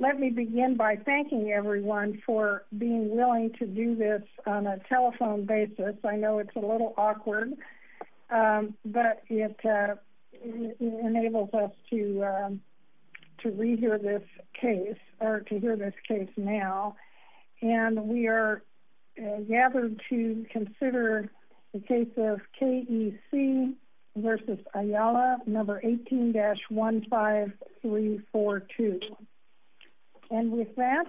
Let me begin by thanking everyone for being willing to do this on a telephone basis. I know it's a little awkward, but it enables us to re-hear this case, or to hear this case now. And we are gathered to consider the case of K. E. C. v. Ayala, No. 18-15342. And with that,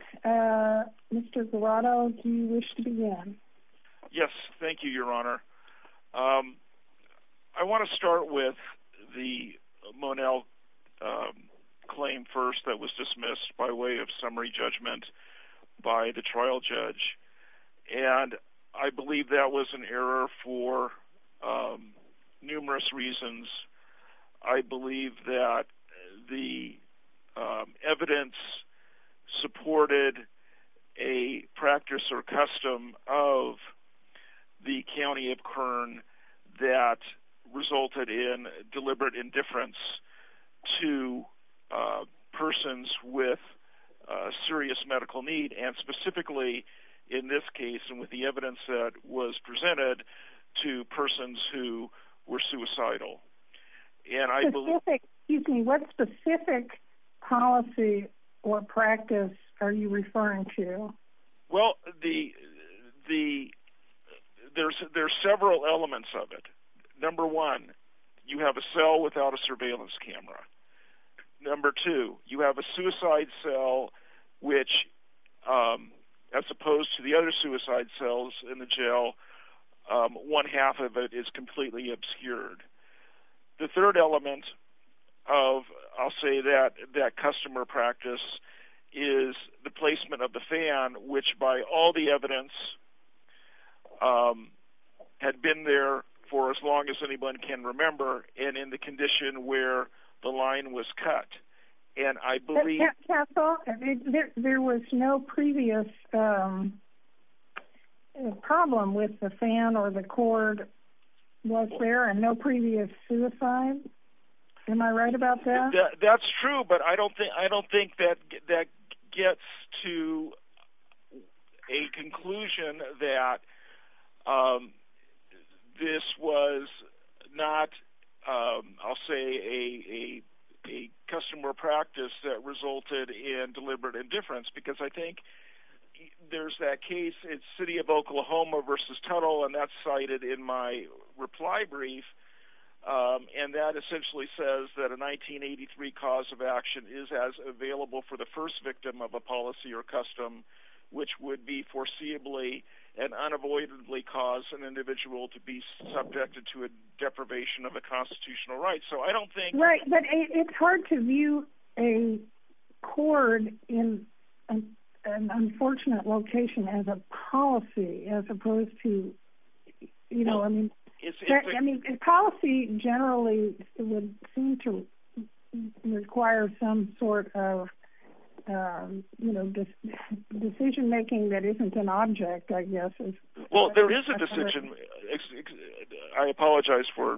Mr. Guarado, do you wish to begin? Yes, thank you, Your Honor. I want to start with the Monell claim first that was dismissed by way of summary judgment by the trial judge. And I believe that was an error for numerous reasons. I believe that the evidence supported a practice or custom of the County of Kern that resulted in deliberate indifference to persons with serious medical need, and specifically in this case, and with the evidence that was presented, to persons who were suicidal. What specific policy or practice are you referring to? Well, there are several elements of it. Number one, you have a cell without a surveillance camera. Number two, you have a suicide cell which, as opposed to the other suicide cells in the jail, one half of it is completely obscured. The third element of, I'll say, that customer practice is the placement of the fan, which by all the evidence had been there for as long as anyone can remember, and in the condition where the line was cut. And I believe... But, counsel, there was no previous problem with the fan or the cord was there, and no previous suicide? Am I right about that? That's true, but I don't think that gets to a conclusion that this was not, I'll say, a customer practice that resulted in deliberate indifference, because I think there's that case, it's City of Oklahoma versus Tuttle, and that's cited in my reply brief, and that essentially says that a 1983 cause of action is as available for the first victim of a policy or custom, which would be foreseeably and unavoidably cause an individual to be subjected to a deprivation of a constitutional right. So I don't think... Right, but it's hard to view a cord in an unfortunate location as a policy, as opposed to, you know, I mean, policy generally would seem to require some sort of, you know, decision-making that isn't an object, I guess. Well, there is a decision. I apologize for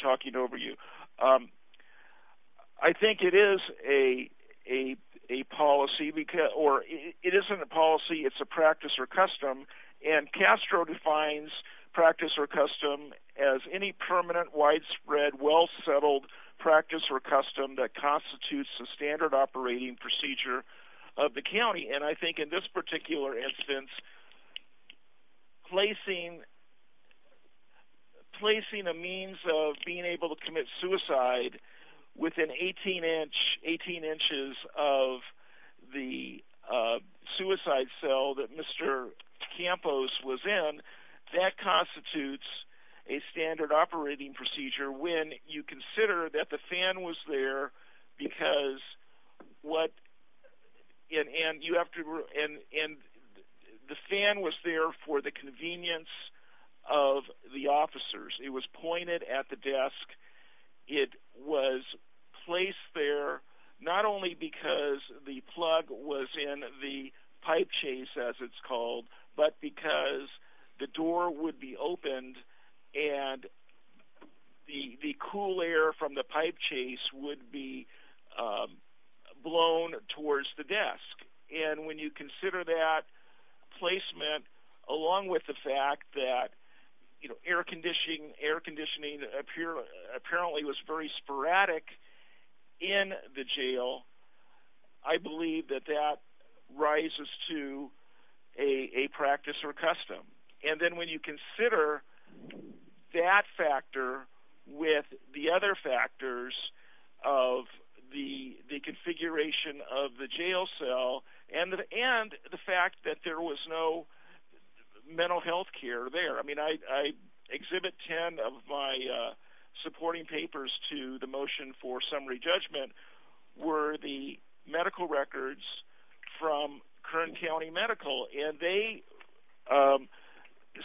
talking over you. I think it is a policy, or it isn't a policy, it's a practice or custom, and Castro defines practice or custom as any permanent, widespread, well-settled practice or custom that constitutes the standard operating procedure of the county, and I think in this particular instance, placing a means of being able to commit suicide within 18 inches of the suicide cell that Mr. Campos was in, that constitutes a standard operating procedure when you consider that the fan was there because what... and the fan was there for the convenience of the officers. It was pointed at the desk. It was placed there not only because the plug was in the pipe chase, as it's called, but because the door would be opened and the cool air from the pipe chase would be blown towards the desk, and when you consider that placement along with the fact that, you know, air conditioning apparently was very sporadic in the jail, I believe that that rises to a practice or custom. And then when you consider that factor with the other factors of the configuration of the jail cell and the fact that there was no mental health care there. I mean, I exhibit 10 of my supporting papers to the motion for summary judgment were the medical records from Kern County Medical, and they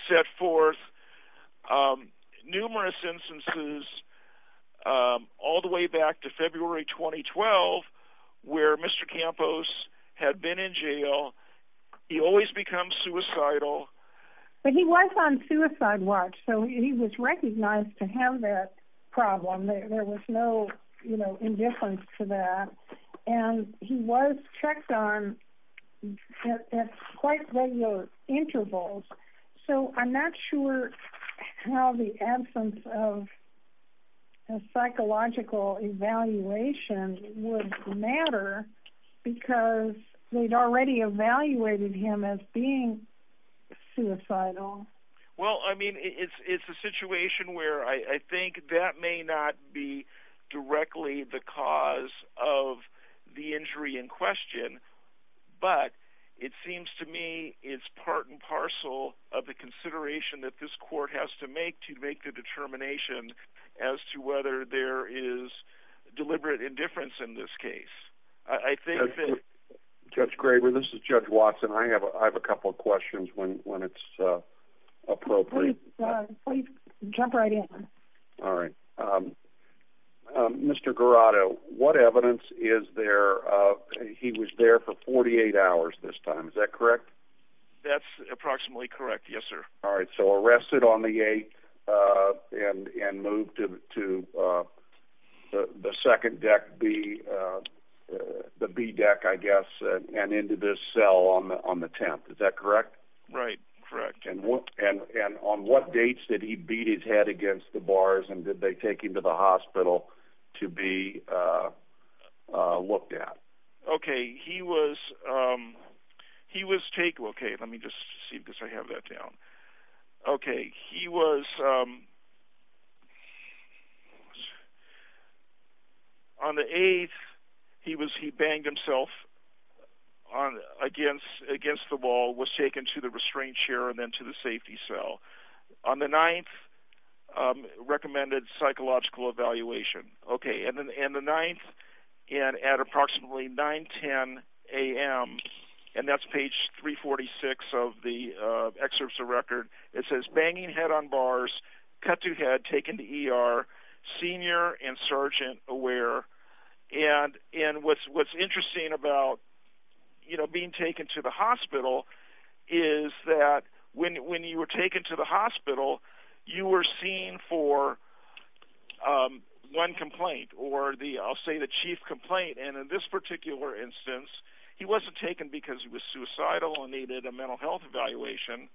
set forth numerous instances all the way back to February 2012 where Mr. Campos had been in jail. He always becomes suicidal. But he was on suicide watch, so he was recognized to have that problem. There was no indifference to that, and he was checked on at quite regular intervals. So I'm not sure how the absence of a psychological evaluation would matter because they'd already evaluated him as being suicidal. Well, I mean, it's a situation where I think that may not be directly the cause of the injury in question, but it seems to me it's part and parcel of the consideration that this court has to make to make the determination as to whether there is deliberate indifference in this case. Judge Graber, this is Judge Watson. I have a couple of questions when it's appropriate. Please jump right in. All right. Mr. Garrato, what evidence is there of he was there for 48 hours this time. Is that correct? That's approximately correct, yes, sir. All right, so arrested on the 8th and moved to the second deck, the B deck, I guess, and into this cell on the 10th. Is that correct? Right, correct. And on what dates did he beat his head against the bars, and did they take him to the hospital to be looked at? Okay, he was taken. Okay, let me just see because I have that down. Okay, he was on the 8th, he banged himself against the wall, was taken to the restraint chair and then to the safety cell. On the 9th, recommended psychological evaluation. Okay, and the 9th at approximately 9, 10 a.m., and that's page 346 of the excerpts of the record, it says, banging head on bars, cut to head, taken to ER, senior and sergeant aware. And what's interesting about, you know, being taken to the hospital is that when you were taken to the hospital, you were seen for one complaint, or I'll say the chief complaint, and in this particular instance, he wasn't taken because he was suicidal and needed a mental health evaluation.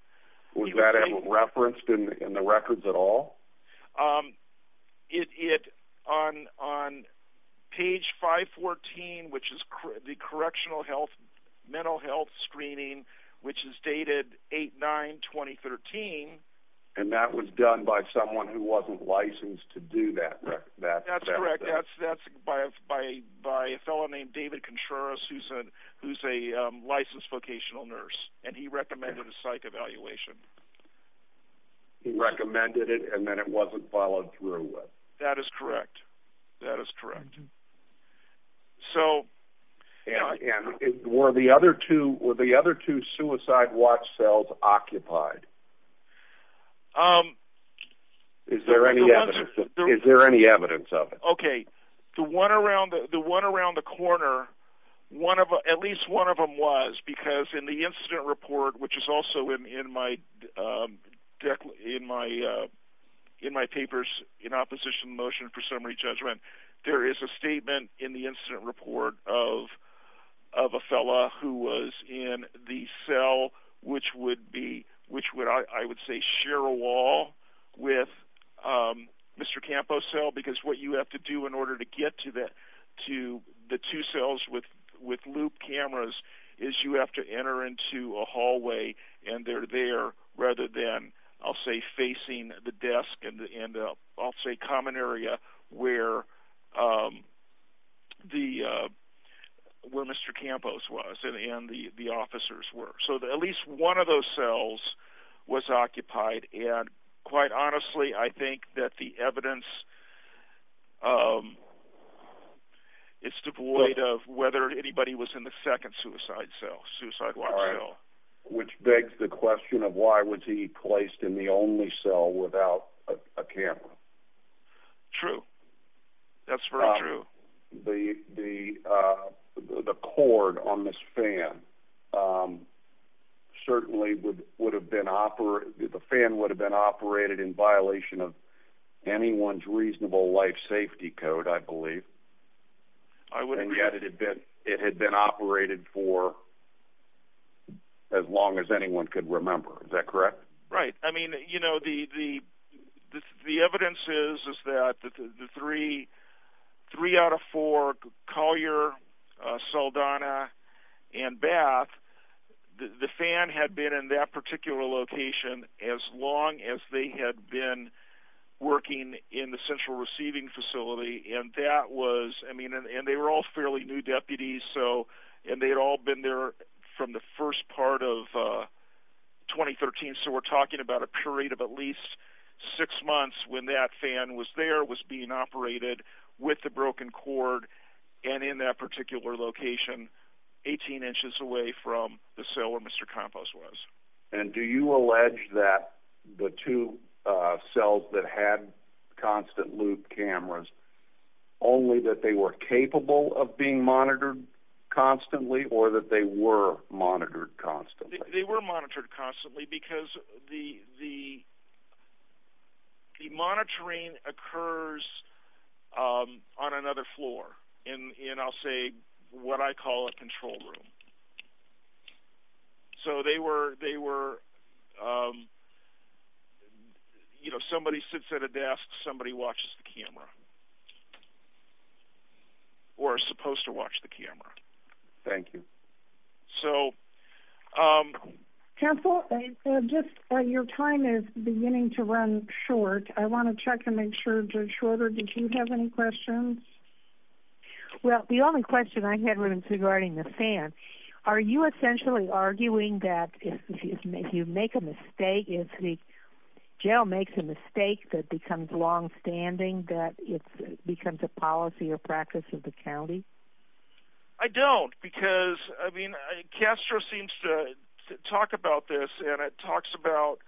Was that referenced in the records at all? On page 514, which is the correctional health, mental health screening, which is dated 8-9-2013. And that was done by someone who wasn't licensed to do that. That's correct. That's by a fellow named David Contreras, who's a licensed vocational nurse, and he recommended a psych evaluation. He recommended it and then it wasn't followed through with. That is correct. That is correct. So were the other two suicide watch cells occupied? Is there any evidence of it? Okay. The one around the corner, at least one of them was, because in the incident report, which is also in my papers, in opposition to the motion for summary judgment, there is a statement in the incident report of a fellow who was in the cell, which would be, I would say, share a wall with Mr. Campos' cell, because what you have to do in order to get to the two cells with loop cameras is you have to enter into a hallway and they're there rather than, I'll say, facing the desk in the, I'll say, common area where Mr. Campos was and the officers were. So at least one of those cells was occupied, and quite honestly I think that the evidence is devoid of whether anybody was in the second suicide cell, suicide watch cell. Which begs the question of why was he placed in the only cell without a camera? True. That's very true. The cord on this fan certainly would have been operated, the fan would have been operated in violation of anyone's reasonable life safety code, I believe. I would agree. But it had been operated for as long as anyone could remember. Is that correct? Right. I mean, you know, the evidence is that the three out of four, Collier, Saldana, and Bath, the fan had been in that particular location as long as they had been working in the central receiving facility, and that was, I mean, and they were all fairly new deputies, and they had all been there from the first part of 2013, so we're talking about a period of at least six months when that fan was there, was being operated with the broken cord, and in that particular location, 18 inches away from the cell where Mr. Campos was. And do you allege that the two cells that had constant loop cameras, only that they were capable of being monitored constantly, or that they were monitored constantly? They were monitored constantly because the monitoring occurs on another floor, in I'll say what I call a control room. So they were, you know, somebody sits at a desk, somebody watches the camera, or is supposed to watch the camera. Thank you. So. Counsel, your time is beginning to run short. I want to check and make sure it's shorter. Did you have any questions? Well, the only question I had regarding the fan, are you essentially arguing that if you make a mistake, if the jail makes a mistake that becomes longstanding, that it becomes a policy or practice of the county? I don't, because, I mean, CASTRO seems to talk about this, and it talks about,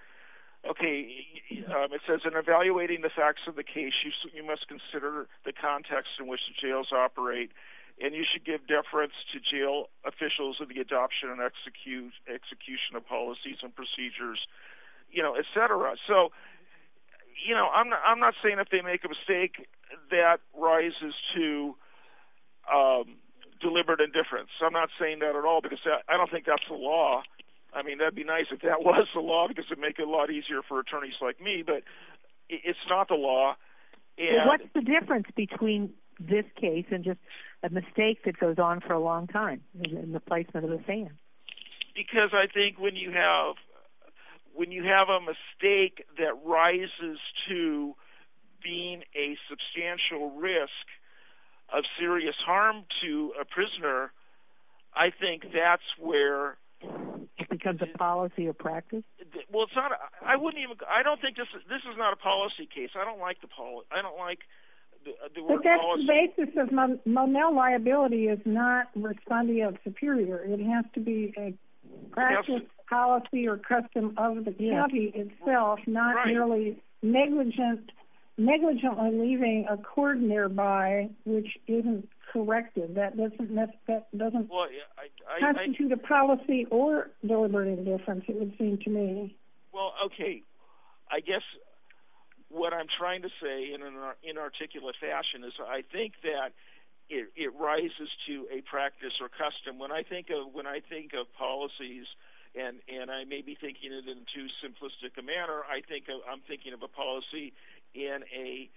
okay, it says, in evaluating the facts of the case, you must consider the context in which the jails operate, and you should give deference to jail officials of the adoption and execution of policies and procedures, you know, et cetera. So, you know, I'm not saying if they make a mistake, that rises to deliberate indifference. I'm not saying that at all, because I don't think that's the law. I mean, that would be nice if that was the law, because it would make it a lot easier for attorneys like me. But it's not the law. Well, what's the difference between this case and just a mistake that goes on for a long time in the placement of the fan? Because I think when you have a mistake that rises to being a substantial risk of serious harm to a prisoner, I think that's where... It becomes a policy or practice? Well, it's not a... I wouldn't even... I don't think this is... This is not a policy case. I don't like the... I don't like the word policy. But that's the basis of... Monel, liability is not responding of superior. It has to be a practice, policy, or custom of the county itself, not merely negligent on leaving a court nearby which isn't corrected. That doesn't constitute a policy or deliberate indifference, as it would seem to me. Well, okay. I guess what I'm trying to say in an inarticulate fashion is I think that it rises to a practice or custom. When I think of policies, and I may be thinking it in too simplistic a manner, I'm thinking of a policy in a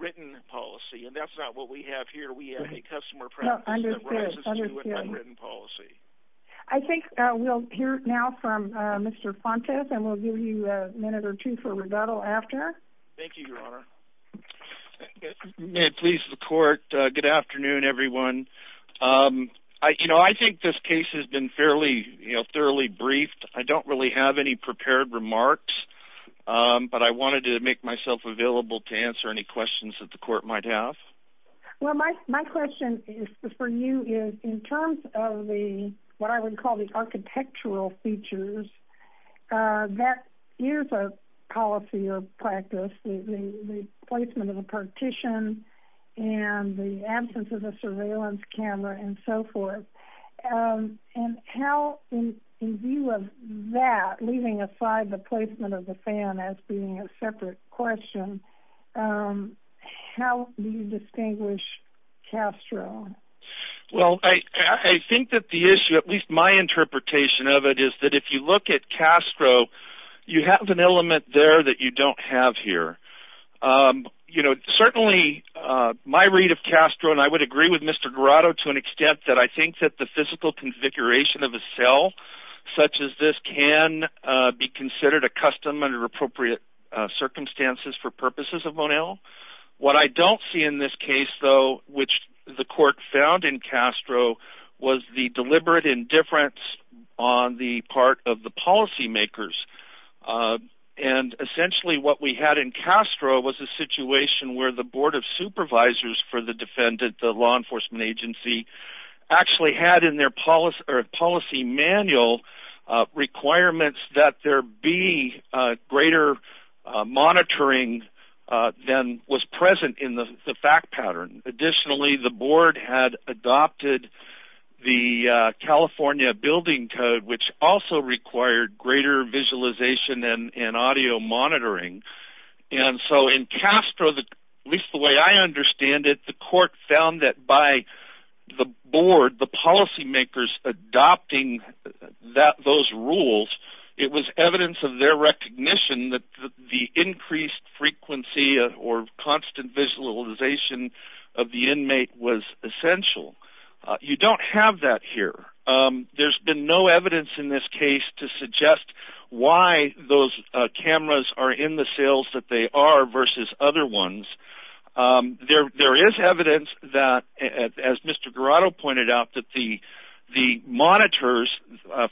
written policy, and that's not what we have here. We have a customer practice that rises to an unwritten policy. I think we'll hear now from Mr. Fontes, and we'll give you a minute or two for rebuttal after. Thank you, Your Honor. May it please the court, good afternoon, everyone. You know, I think this case has been fairly, you know, thoroughly briefed. I don't really have any prepared remarks, but I wanted to make myself available to answer any questions that the court might have. Well, my question for you is in terms of the, what I would call the architectural features, that is a policy or practice, the placement of a partition and the absence of a surveillance camera and so forth. And how, in view of that, leaving aside the placement of the fan as being a separate question, how do you distinguish Castro? Well, I think that the issue, at least my interpretation of it, is that if you look at Castro, you have an element there that you don't have here. You know, certainly my read of Castro, and I would agree with Mr. Garato to an extent, that I think that the physical configuration of a cell such as this can be What I don't see in this case, though, which the court found in Castro was the deliberate indifference on the part of the policymakers. And essentially what we had in Castro was a situation where the Board of Supervisors for the defendant, the law enforcement agency, actually had in their policy manual requirements that there be greater monitoring than was present in the fact pattern. Additionally, the board had adopted the California Building Code, which also required greater visualization and audio monitoring. And so in Castro, at least the way I understand it, the court found that by the board, the policymakers adopting those rules, it was evidence of their recognition that the increased frequency or constant visualization of the inmate was essential. You don't have that here. There's been no evidence in this case to suggest why those cameras are in the cells that they are versus other ones. There is evidence that, as Mr. Garato pointed out, that the monitors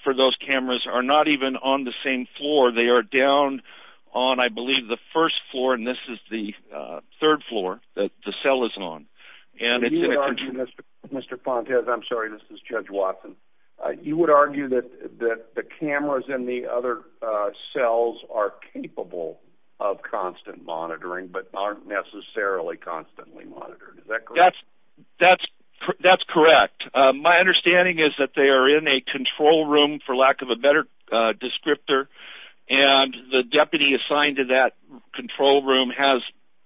for those cameras are not even on the same floor. They are down on, I believe, the first floor, and this is the third floor that the cell is on. And it's in a contribution. Mr. Fontes, I'm sorry, this is Judge Watson. You would argue that the cameras in the other cells are capable of constant monitoring but aren't necessarily constantly monitored. Is that correct? That's correct. My understanding is that they are in a control room, for lack of a better descriptor, and the deputy assigned to that control room has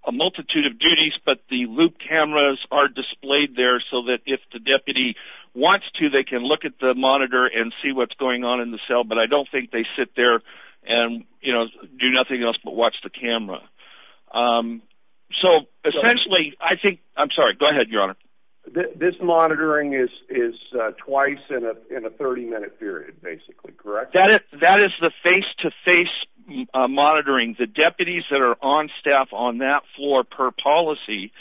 a multitude of duties, but the loop cameras are displayed there so that if the deputy wants to, they can look at the monitor and see what's going on in the cell, but I don't think they sit there and do nothing else but watch the camera. So essentially, I think, I'm sorry, go ahead, Your Honor. This monitoring is twice in a 30-minute period, basically, correct? That is the face-to-face monitoring. The deputies that are on staff on that floor per policy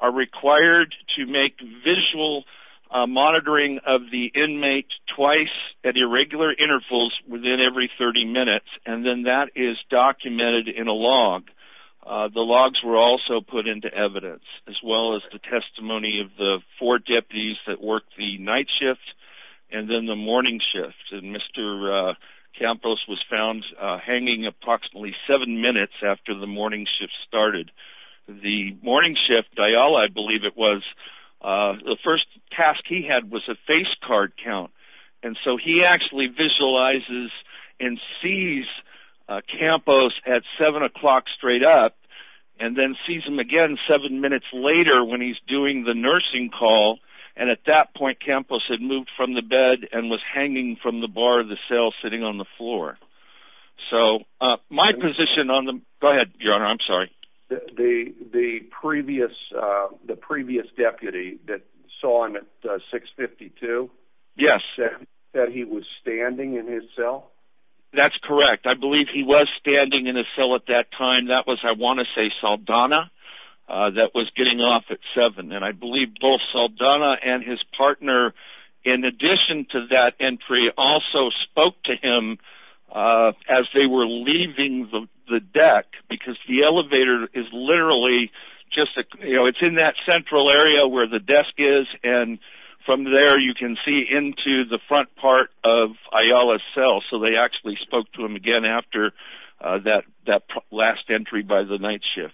are required to make visual monitoring of the inmate twice at irregular intervals within every 30 minutes, and then that is documented in a log. The logs were also put into evidence as well as the testimony of the four deputies that worked the night shift and then the morning shift, and Mr. Campos was found hanging approximately seven minutes after the morning shift started. The morning shift, Diallo, I believe it was, the first task he had was a face card account, and so he actually visualizes and sees Campos at 7 o'clock straight up and then sees him again seven minutes later when he's doing the nursing call, and at that point Campos had moved from the bed and was hanging from the bar of the cell sitting on the floor. So my position on the, go ahead, Your Honor, I'm sorry. The previous deputy that saw him at 652? Yes. That he was standing in his cell? That's correct. I believe he was standing in his cell at that time. That was, I want to say, Saldana that was getting off at 7, and I believe both Saldana and his partner, in addition to that entry, also spoke to him as they were leaving the deck, because the elevator is literally just, you know, it's in that central area where the desk is, and from there you can see into the front part of Ayala's cell, so they actually spoke to him again after that last entry by the night shift.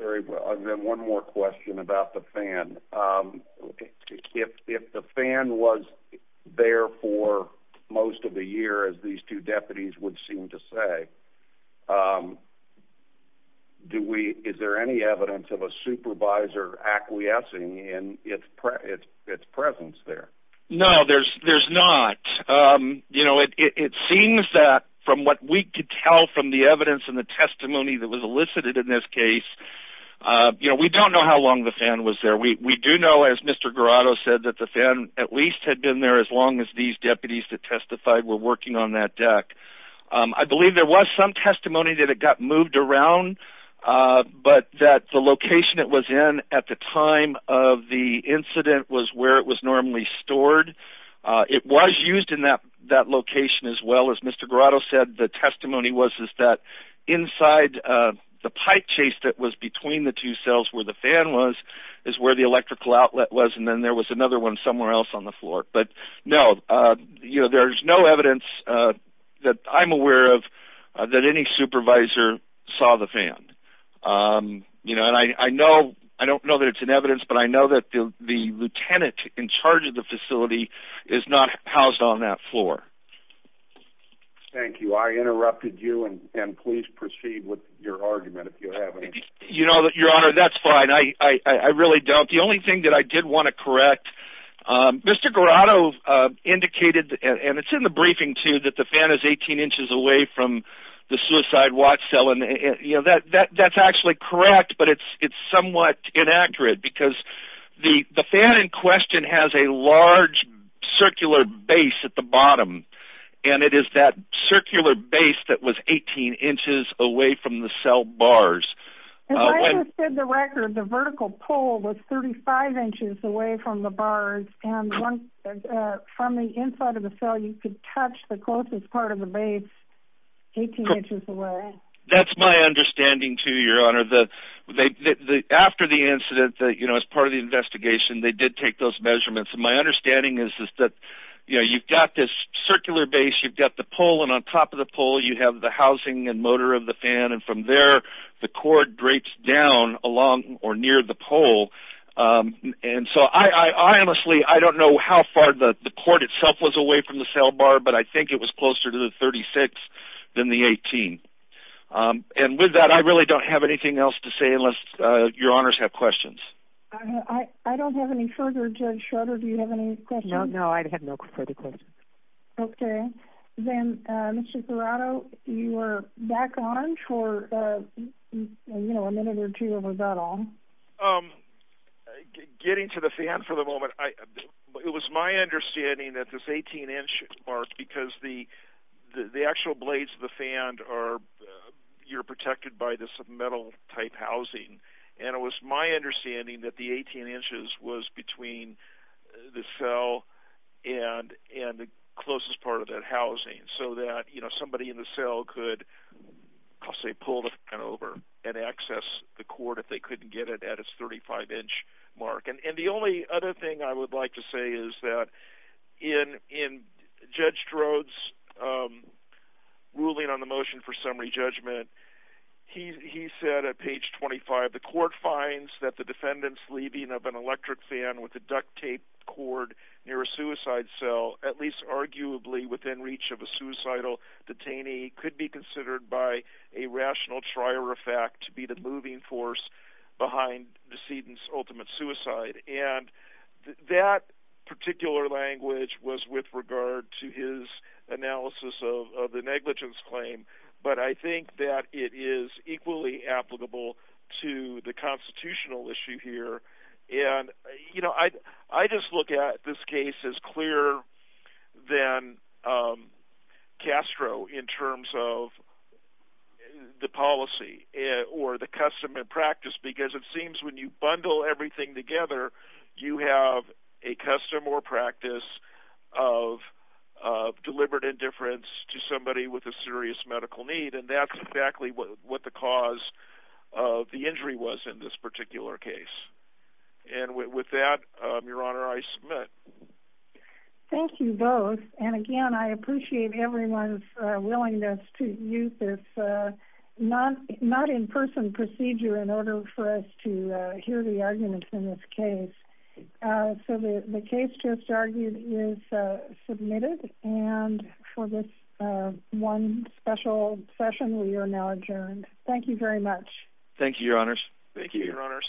And then one more question about the fan. If the fan was there for most of the year, as these two deputies would seem to say, is there any evidence of a supervisor acquiescing in its presence there? No, there's not. You know, it seems that from what we could tell from the evidence and the testimony that was elicited in this case, you know, we don't know how long the fan was there. We do know, as Mr. Garato said, that the fan at least had been there as long as these deputies that testified were working on that deck. I believe there was some testimony that it got moved around, but that the location it was in at the time of the incident was where it was normally stored. It was used in that location as well. As Mr. Garato said, the testimony was that inside the pipe chase that was between the two cells where the fan was, is where the electrical outlet was. And then there was another one somewhere else on the floor. But no, you know, there's no evidence that I'm aware of that any supervisor saw the fan. You know, and I know, I don't know that it's in evidence, but I know that the lieutenant in charge of the facility is not housed on that floor. Thank you. I interrupted you and please proceed with your argument if you have any. Your Honor, that's fine. I really don't. The only thing that I did want to correct, Mr. Garato indicated and it's in the briefing too, that the fan is 18 inches away from the suicide watch cell. And that's actually correct, but it's somewhat inaccurate because the fan in question has a large circular base at the bottom. And it is that circular base that was 18 inches away from the cell bars. As I understood the record, the vertical pole was 35 inches away from the bars. And from the inside of the cell, you could touch the closest part of the base 18 inches away. That's my understanding too, Your Honor. After the incident that, you know, as part of the investigation, they did take those measurements. And my understanding is that, you know, you've got this circular base, you've got the pole and on top of the pole, you have the housing and motor of the fan. And from there, the cord drapes down along or near the pole. And so I honestly, I don't know how far the cord itself was away from the cell bar, but I think it was closer to the 36 than the 18. And with that, I really don't have anything else to say, unless Your Honors have questions. I don't have any further, Judge Schroeder, do you have any questions? No, I have no further questions. Okay. Then, Mr. Serrato, you were back on for, you know, a minute or two or was that all? Getting to the fan for the moment, it was my understanding that this 18 inch mark, because the actual blades of the fan are, you're protected by this metal type housing. And it was my understanding that the 18 inches was between the cell and the closest part of that housing. So that, you know, somebody in the cell could, I'll say, pull the fan over and access the cord if they couldn't get it at its 35 inch mark. And the only other thing I would like to say is that in Judge Strode's ruling on the motion for summary judgment, he said at page 25, the court finds that the defendant's leaving of an electric fan with a at least arguably within reach of a suicidal detainee could be considered by a rational trier effect to be the moving force behind decedent's ultimate suicide. And that particular language was with regard to his analysis of the negligence claim. But I think that it is equally applicable to the constitutional issue here. And, you know, I just look at this case as clearer than Castro in terms of the policy or the custom and practice, because it seems when you bundle everything together, you have a custom or practice of deliberate indifference to somebody with a serious medical need. And that's exactly what the cause of the injury was in this particular case. And with that, Your Honor, I submit. Thank you both. And again, I appreciate everyone's willingness to use this not in person procedure in order for us to hear the arguments in this case. So the case just argued is submitted. And for this one special session, we are now adjourned. Thank you very much. Thank you, Your Honors. Thank you, Your Honors.